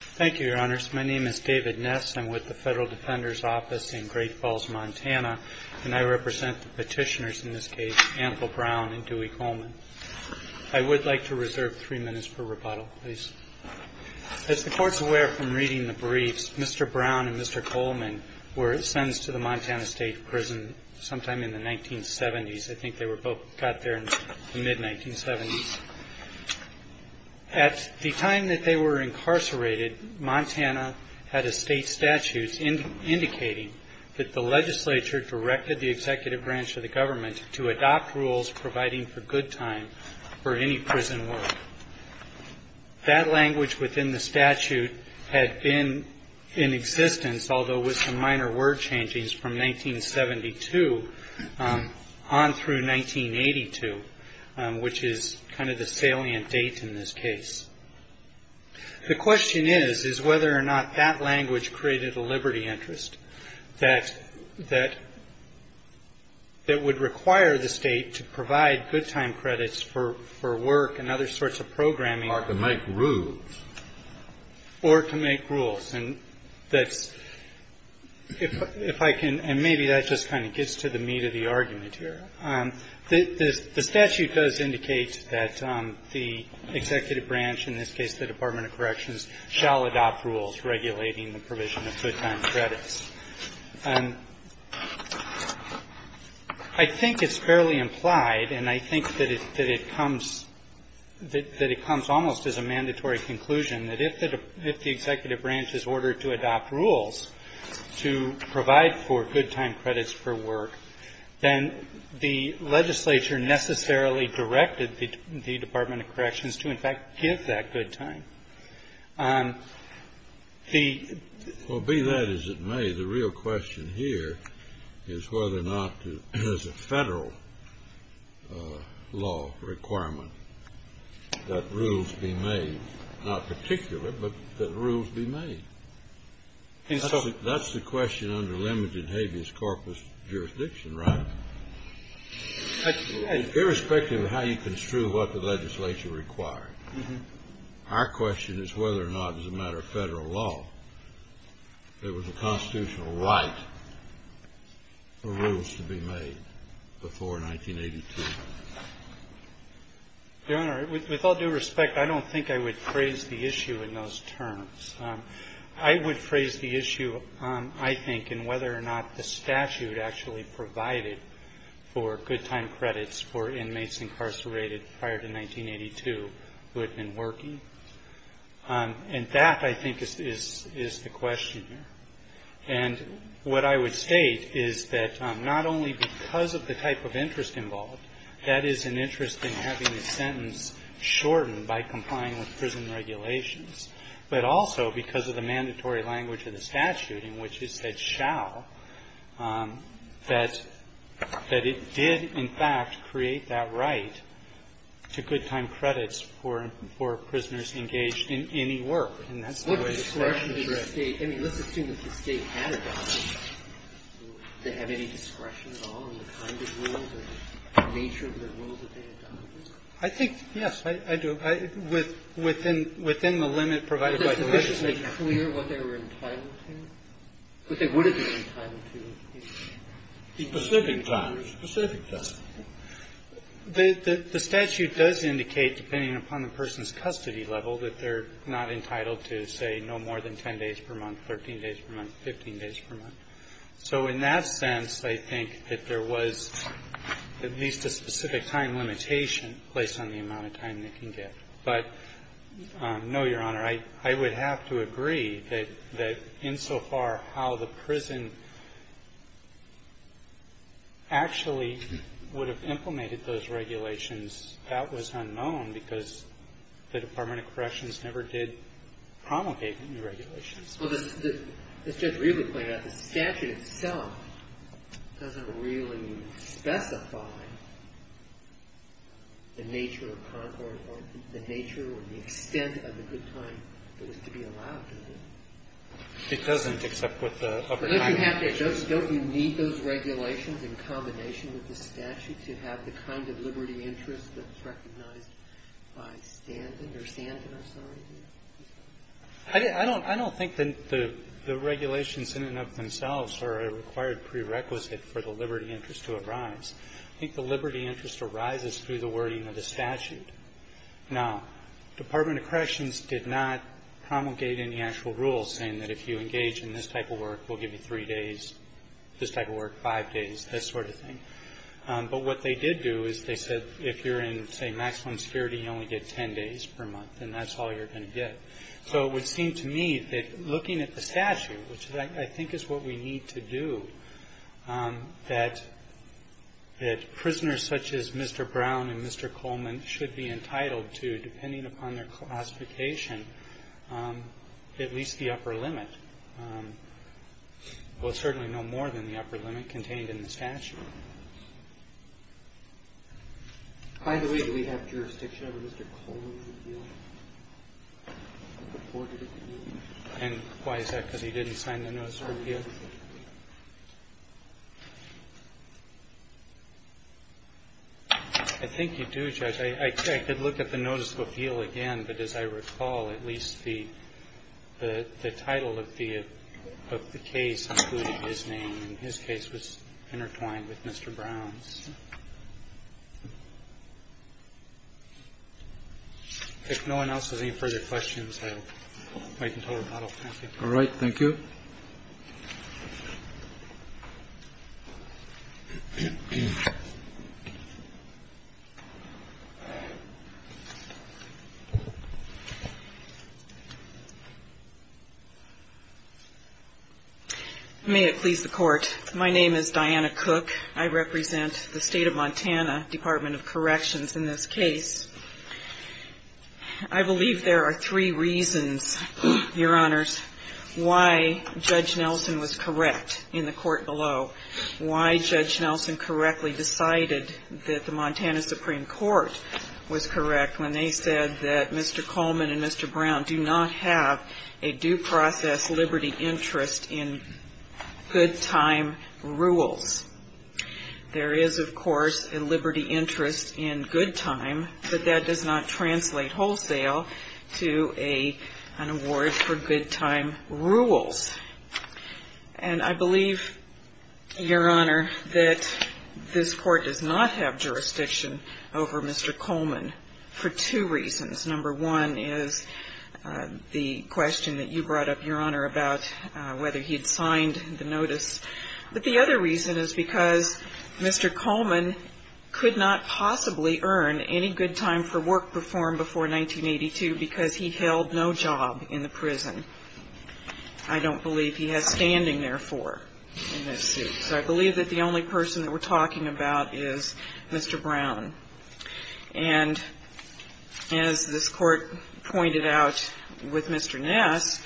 Thank you, Your Honors. My name is David Ness. I'm with the Federal Defender's Office in Great Falls, Montana, and I represent the petitioners in this case, Annabelle Brown and Dewey Coleman. I would like to reserve three minutes for rebuttal, please. As the Court's aware from reading the briefs, Mr. Brown and Mr. Coleman were sentenced to the Montana State Prison sometime in the 1970s. I think they both got there in the mid-1970s. At the time that they were incarcerated, Montana had a state statute indicating that the legislature directed the executive branch of the government to adopt rules providing for good time for any prison work. That language within the statute had been in existence, although with some minor word changings, from 1972 on through 1982, which is kind of the salient date in this case. The question is, is whether or not that language created a liberty interest that would require the State to provide good time credits for work and other sorts of programming. Or to make rules. Or to make rules. And that's – if I can – and maybe that just kind of gets to the meat of the argument here. The statute does indicate that the executive branch, in this case the Department of Corrections, shall adopt rules regulating the provision of good time credits. I think it's fairly implied, and I think that it comes – that it comes almost as a mandatory conclusion that if the executive branch is ordered to adopt rules to provide for good time credits for work, then the legislature necessarily directed the Department of Corrections to, in fact, give that good time. The – Well, be that as it may, the real question here is whether or not there's a Federal law requirement that rules be made. Not particular, but that rules be made. And so – That's the question under Lemage and Habeas Corpus jurisdiction, right? Irrespective of how you construe what the legislation requires. Our question is whether or not, as a matter of Federal law, there was a constitutional right for rules to be made before 1982. Your Honor, with all due respect, I don't think I would phrase the issue in those terms. I would phrase the issue, I think, in whether or not the statute actually provided for good time credits for inmates incarcerated prior to 1982 who had been working. And that, I think, is the question here. And what I would state is that not only because of the type of interest involved, that is an interest in having the sentence shortened by complying with prison regulations, but also because of the mandatory language of the statute in which it said shall, that it did, in fact, create that right to good time credits for prisoners engaged in any work. And that's the way the statute addressed it. What discretion did the State – I mean, let's assume that the State had a right. Did they have any discretion at all in the kind of rule, the nature of the rule that they had done? I think, yes, I do. Within the limit provided by the legislation. Was it sufficiently clear what they were entitled to? What they would have been entitled to. The specific time. The specific time. The statute does indicate, depending upon the person's custody level, that they're not entitled to, say, no more than 10 days per month, 13 days per month, 15 days per month. So in that sense, I think that there was at least a specific time limitation placed on the amount of time they can get. But, no, Your Honor, I would have to agree that insofar how the prison actually would have implemented those regulations, that was unknown because the Department of Corrections never did promulgate any regulations. Well, as Judge Rieber pointed out, the statute itself doesn't really specify the nature or the extent of the good time that was to be allowed to them. It doesn't, except with the upper time limit. Don't you need those regulations in combination with the statute to have the kind of liberty interest that's recognized by Stanton? I don't think the regulations in and of themselves are a required prerequisite for the liberty interest to arise. I think the liberty interest arises through the wording of the statute. Now, the Department of Corrections did not promulgate any actual rules saying that if you engage in this type of work, we'll give you three days, this type of work, five days, this sort of thing. But what they did do is they said if you're in, say, maximum security, you only get ten days per month, and that's all you're going to get. So it would seem to me that looking at the statute, which I think is what we need to do, that prisoners such as Mr. Brown and Mr. Coleman should be entitled to, depending upon their classification, at least the upper limit. Well, certainly no more than the upper limit contained in the statute. By the way, do we have jurisdiction over Mr. Coleman's appeal? And why is that? I think you do, Judge. I could look at the notice of appeal again, but as I recall, at least the title of the case included his name, and his case was intertwined with Mr. Brown's. If no one else has any further questions, I'll wait until rebuttal time. All right. Thank you. May it please the Court. My name is Diana Cook. I represent the State of Montana Department of Corrections in this case. I believe there are three reasons, Your Honors, why Judge Nelson was correct in the court below, why Judge Nelson correctly decided that the Montana Supreme Court was correct when they said that Mr. Coleman and Mr. Brown do not have a due process liberty interest in good time rules. There is, of course, a liberty interest in good time, but that does not translate wholesale to an award for good time rules. And I believe, Your Honor, that this Court does not have jurisdiction over Mr. Coleman for two reasons. Number one is the question that you brought up, Your Honor, about whether he had signed the notice. But the other reason is because Mr. Coleman could not possibly earn any good time for work reform before 1982 because he held no job in the prison. I don't believe he has standing, therefore, in this suit. So I believe that the only person that we're talking about is Mr. Brown. And as this Court pointed out with Mr. Ness,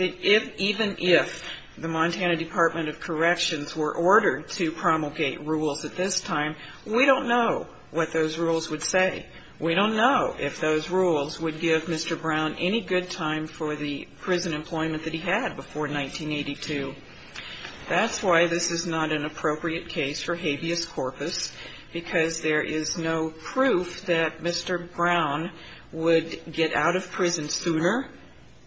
even if the Montana Department of Corrections were ordered to promulgate rules at this time, we don't know what those rules would say. We don't know if those rules would give Mr. Brown any good time for the prison employment that he had before 1982. That's why this is not an appropriate case for habeas corpus, because there is no proof that Mr. Brown would get out of prison sooner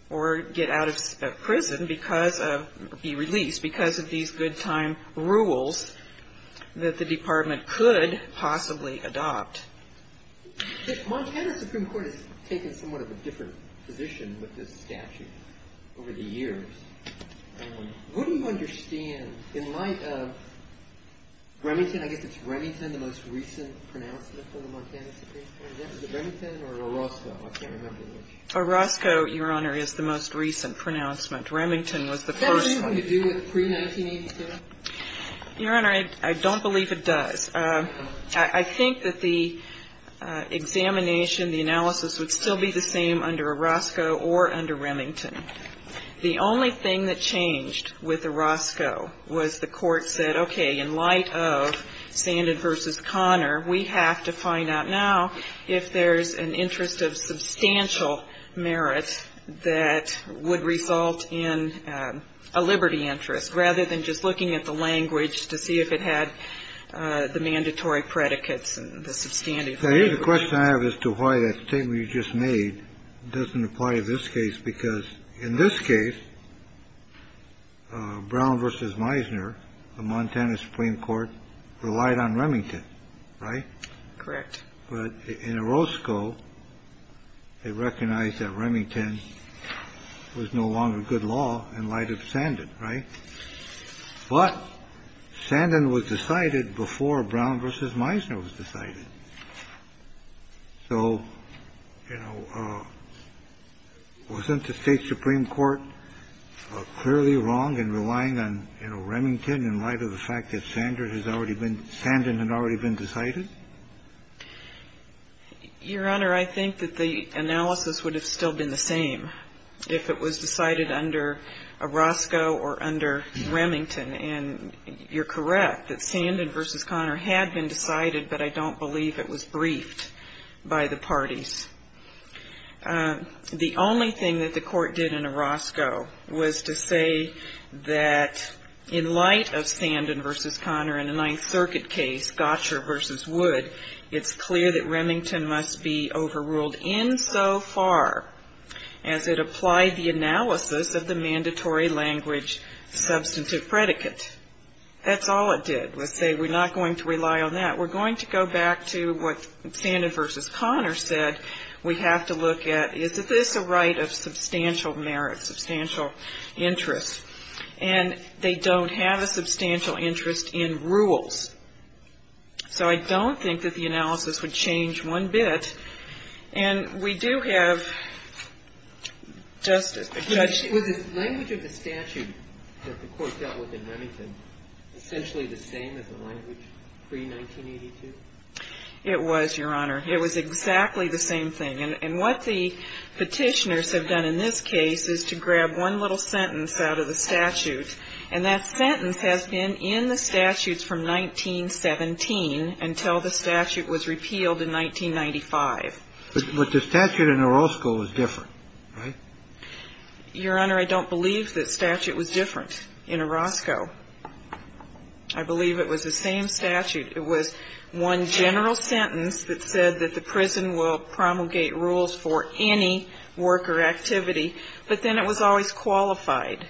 or get out of prison because of the release, because of these good time rules that the Department could possibly adopt. Montana Supreme Court has taken somewhat of a different position with this statute over the years. What do you understand in light of Remington? I guess it's Remington, the most recent pronouncement for the Montana Supreme Court. Is it Remington or Orozco? I can't remember which. Orozco, Your Honor, is the most recent pronouncement. Remington was the first one. Does that have anything to do with pre-1982? Your Honor, I don't believe it does. I think that the examination, the analysis would still be the same under Orozco or under Remington. The only thing that changed with Orozco was the court said, okay, in light of Sandin v. Connor, we have to find out now if there's an interest of substantial merit that would result in a liberty interest, rather than just looking at the language to see if it had the mandatory predicates and the substantive. The question I have as to why that statement you just made doesn't apply to this case, because in this case, Brown v. Meisner, the Montana Supreme Court relied on Remington, right? Correct. But in Orozco, they recognized that Remington was no longer good law in light of Sandin, right? But Sandin was decided before Brown v. Meisner was decided. So, you know, wasn't the State supreme court clearly wrong in relying on, you know, Remington in light of the fact that Sandin had already been decided? Your Honor, I think that the analysis would have still been the same if it was decided under Orozco or under Remington. And you're correct that Sandin v. Connor had been decided, but I don't believe it was briefed by the parties. The only thing that the court did in Orozco was to say that in light of Sandin v. Connor in the Ninth Circuit case, Gotcher v. Wood, it's clear that Remington must be overruled insofar as it applied the analysis of the mandatory language substantive predicate. That's all it did, was say we're not going to rely on that. We're going to go back to what Sandin v. Connor said. We have to look at, is this a right of substantial merit, substantial interest? And they don't have a substantial interest in rules. So I don't think that the analysis would change one bit. And we do have just a question. Was the language of the statute that the court dealt with in Remington essentially the same as the language pre-1982? It was, Your Honor. It was exactly the same thing. And what the Petitioners have done in this case is to grab one little sentence out of the statute. And that sentence has been in the statutes from 1917 until the statute was repealed in 1995. But the statute in Orozco was different, right? Your Honor, I don't believe the statute was different in Orozco. I believe it was the same statute. It was one general sentence that said that the prison will promulgate rules for any work or activity. But then it was always qualified.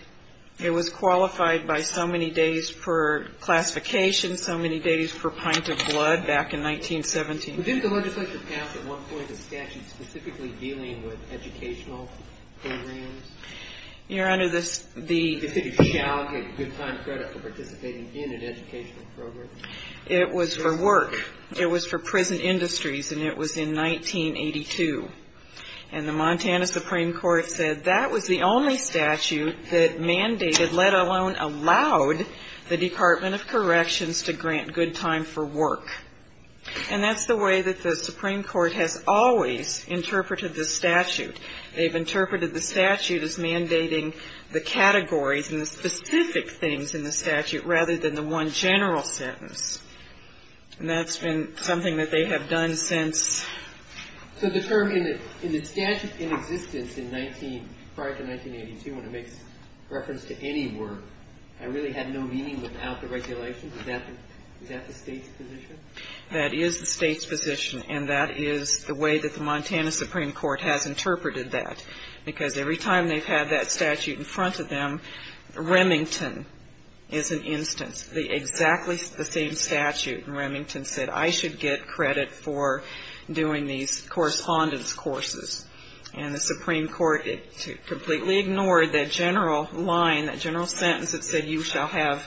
It was qualified by so many days per classification, so many days per pint of blood back in 1917. Didn't the legislature pass at one point a statute specifically dealing with educational programs? Your Honor, the ---- If you shall get good time credit for participating in an educational program. It was for work. It was for prison industries, and it was in 1982. And the Montana Supreme Court said that was the only statute that mandated, let alone allowed, the Department of Corrections to grant good time for work. And that's the way that the Supreme Court has always interpreted the statute. They've interpreted the statute as mandating the categories and the specific things in the statute rather than the one general sentence. And that's been something that they have done since. So the term in the statute in existence in 19 ---- prior to 1982, when it makes reference to any work, I really had no meaning without the regulation. Is that the State's position? That is the State's position. And that is the way that the Montana Supreme Court has interpreted that. Because every time they've had that statute in front of them, Remington is an instance, exactly the same statute. And Remington said, I should get credit for doing these correspondence courses. And the Supreme Court completely ignored that general line, that general sentence that said you shall have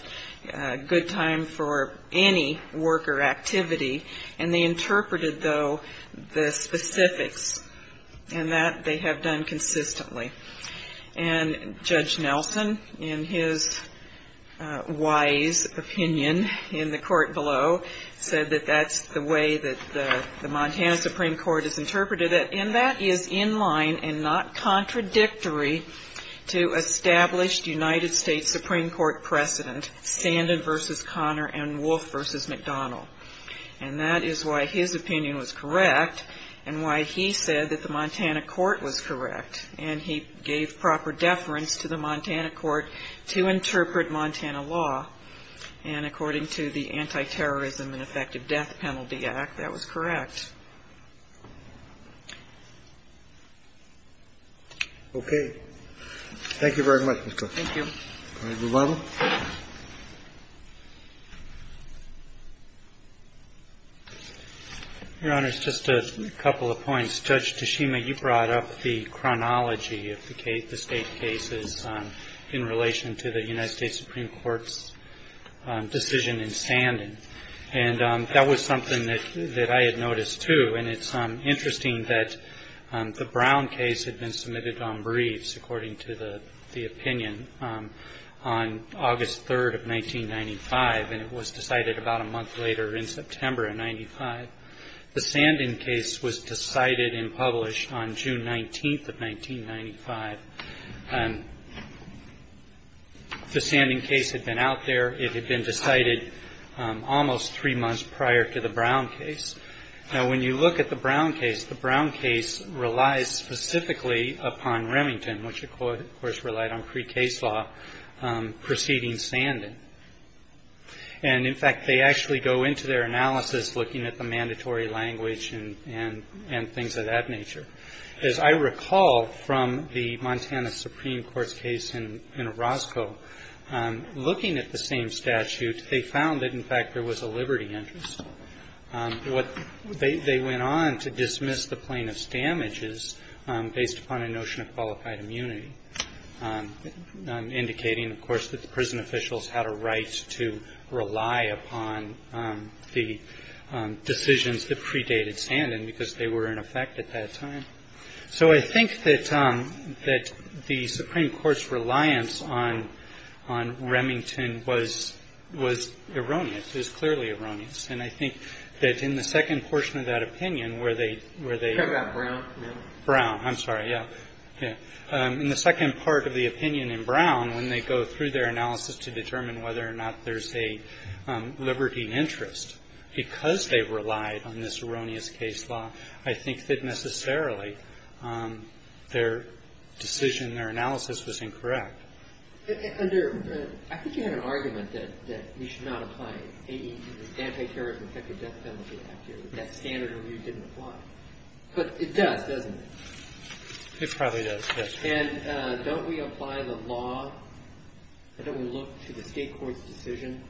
good time for any work or activity. And they interpreted, though, the specifics. And that they have done consistently. And Judge Nelson, in his wise opinion in the court below, said that that's the way that the Montana Supreme Court has interpreted it. And that is in line and not contradictory to established United States Supreme Court precedent, Sandin v. Conner and Wolf v. McDonnell. And that is why his opinion was correct and why he said that the Montana court was correct. And he gave proper deference to the Montana court to interpret Montana law. And according to the Anti-Terrorism and Effective Death Penalty Act, that was correct. Okay. Thank you very much, Ms. Cook. Thank you. Can I move on? Your Honor, just a couple of points. Judge Tashima, you brought up the chronology of the State cases in relation to the United States Supreme Court's decision in Sandin. And that was something that I had noticed, too. And it's interesting that the Brown case had been submitted on briefs, according to the opinion, on August 3rd of 1995, and it was decided about a month later in September of 1995. The Sandin case was decided and published on June 19th of 1995. The Sandin case had been out there. It had been decided almost three months prior to the Brown case. Now, when you look at the Brown case, the Brown case relies specifically upon Remington, which, of course, relied on pre-case law preceding Sandin. And, in fact, they actually go into their analysis looking at the mandatory language and things of that nature. As I recall from the Montana Supreme Court's case in Orozco, looking at the same statute, they found that, in fact, there was a liberty interest. They went on to dismiss the plaintiff's damages based upon a notion of qualified immunity, indicating, of course, that the prison officials had a right to rely upon the decisions that predated Sandin because they were in effect at that time. So I think that the Supreme Court's reliance on Remington was erroneous, is clearly erroneous. And I think that in the second portion of that opinion, where they ‑‑ Breyer. Brown. Brown. I'm sorry, yeah. In the second part of the opinion in Brown, when they go through their analysis to determine whether or not there's a liberty interest, because they relied on this erroneous case law, I think that necessarily their decision, their analysis was incorrect. Kagan. Under ‑‑ I think you had an argument that we should not apply AED, the Anti-Terrorist Infected Death Penalty Act. That standard review didn't apply. But it does, doesn't it? It probably does, yes. And don't we apply the law? Don't we look to the State Court's decision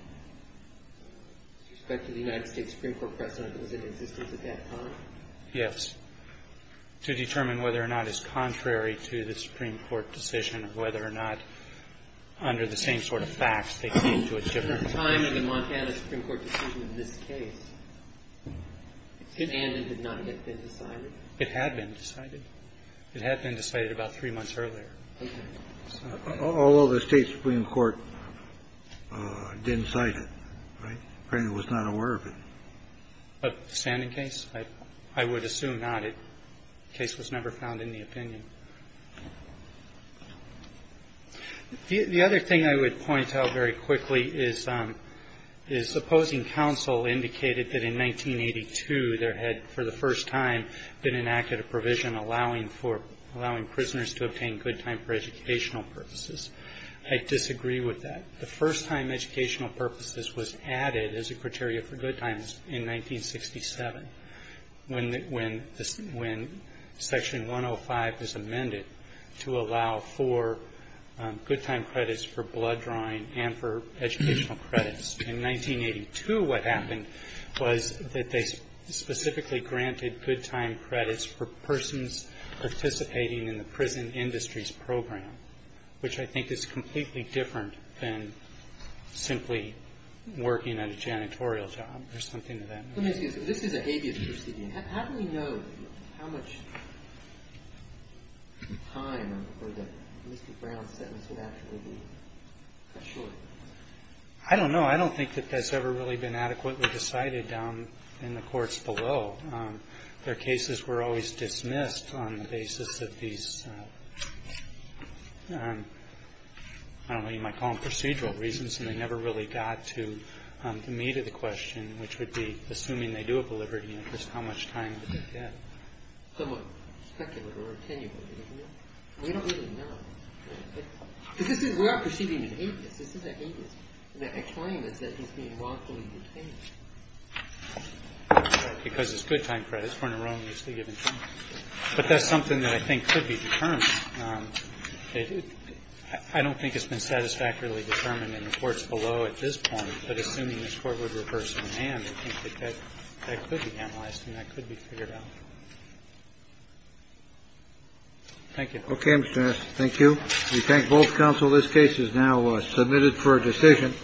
with respect to the United States Supreme Court precedent that was in existence at that time? Yes. To determine whether or not it's contrary to the Supreme Court decision, whether or not under the same sort of facts they came to a different ‑‑ At the time of the Montana Supreme Court decision in this case, Sandin had not yet been decided. It had been decided. It had been decided about three months earlier. Okay. Although the State Supreme Court didn't cite it, right? Apparently was not aware of it. But the Sandin case? I would assume not. The case was never found in the opinion. The other thing I would point out very quickly is the opposing counsel indicated that in 1982 there had, for the first time, been enacted a provision allowing for ‑‑ allowing prisoners to obtain good time for educational purposes. I disagree with that. The first time educational purposes was added as a criteria for good times in 1967, when section 105 was amended to allow for good time credits for blood drawing and for educational credits. In 1982, what happened was that they specifically granted good time credits for persons participating in the prison industries program, which I think is completely different than simply working at a janitorial job or something to that effect. Let me ask you this. This is an habeas proceeding. How do we know how much time or the brown sentence would actually be? I don't know. I don't think that that's ever really been adequately decided down in the courts below. Their cases were always dismissed on the basis of these, I don't know, you might call them procedural reasons, and they never really got to the meat of the question, which would be assuming they do have a liberty interest, how much time did they get? Somewhat speculative or attenuated, isn't it? We don't really know. We're not proceeding with habeas. This is a habeas. The explanation is that he's being wrongfully detained. Because it's good time credits for an erroneously given sentence. But that's something that I think could be determined. I don't think it's been satisfactorily determined in the courts below at this point, but assuming this Court would reverse command, I think that that could be analyzed and that could be figured out. Thank you. OK. Thank you. We thank both counsel. This case is now submitted for a decision.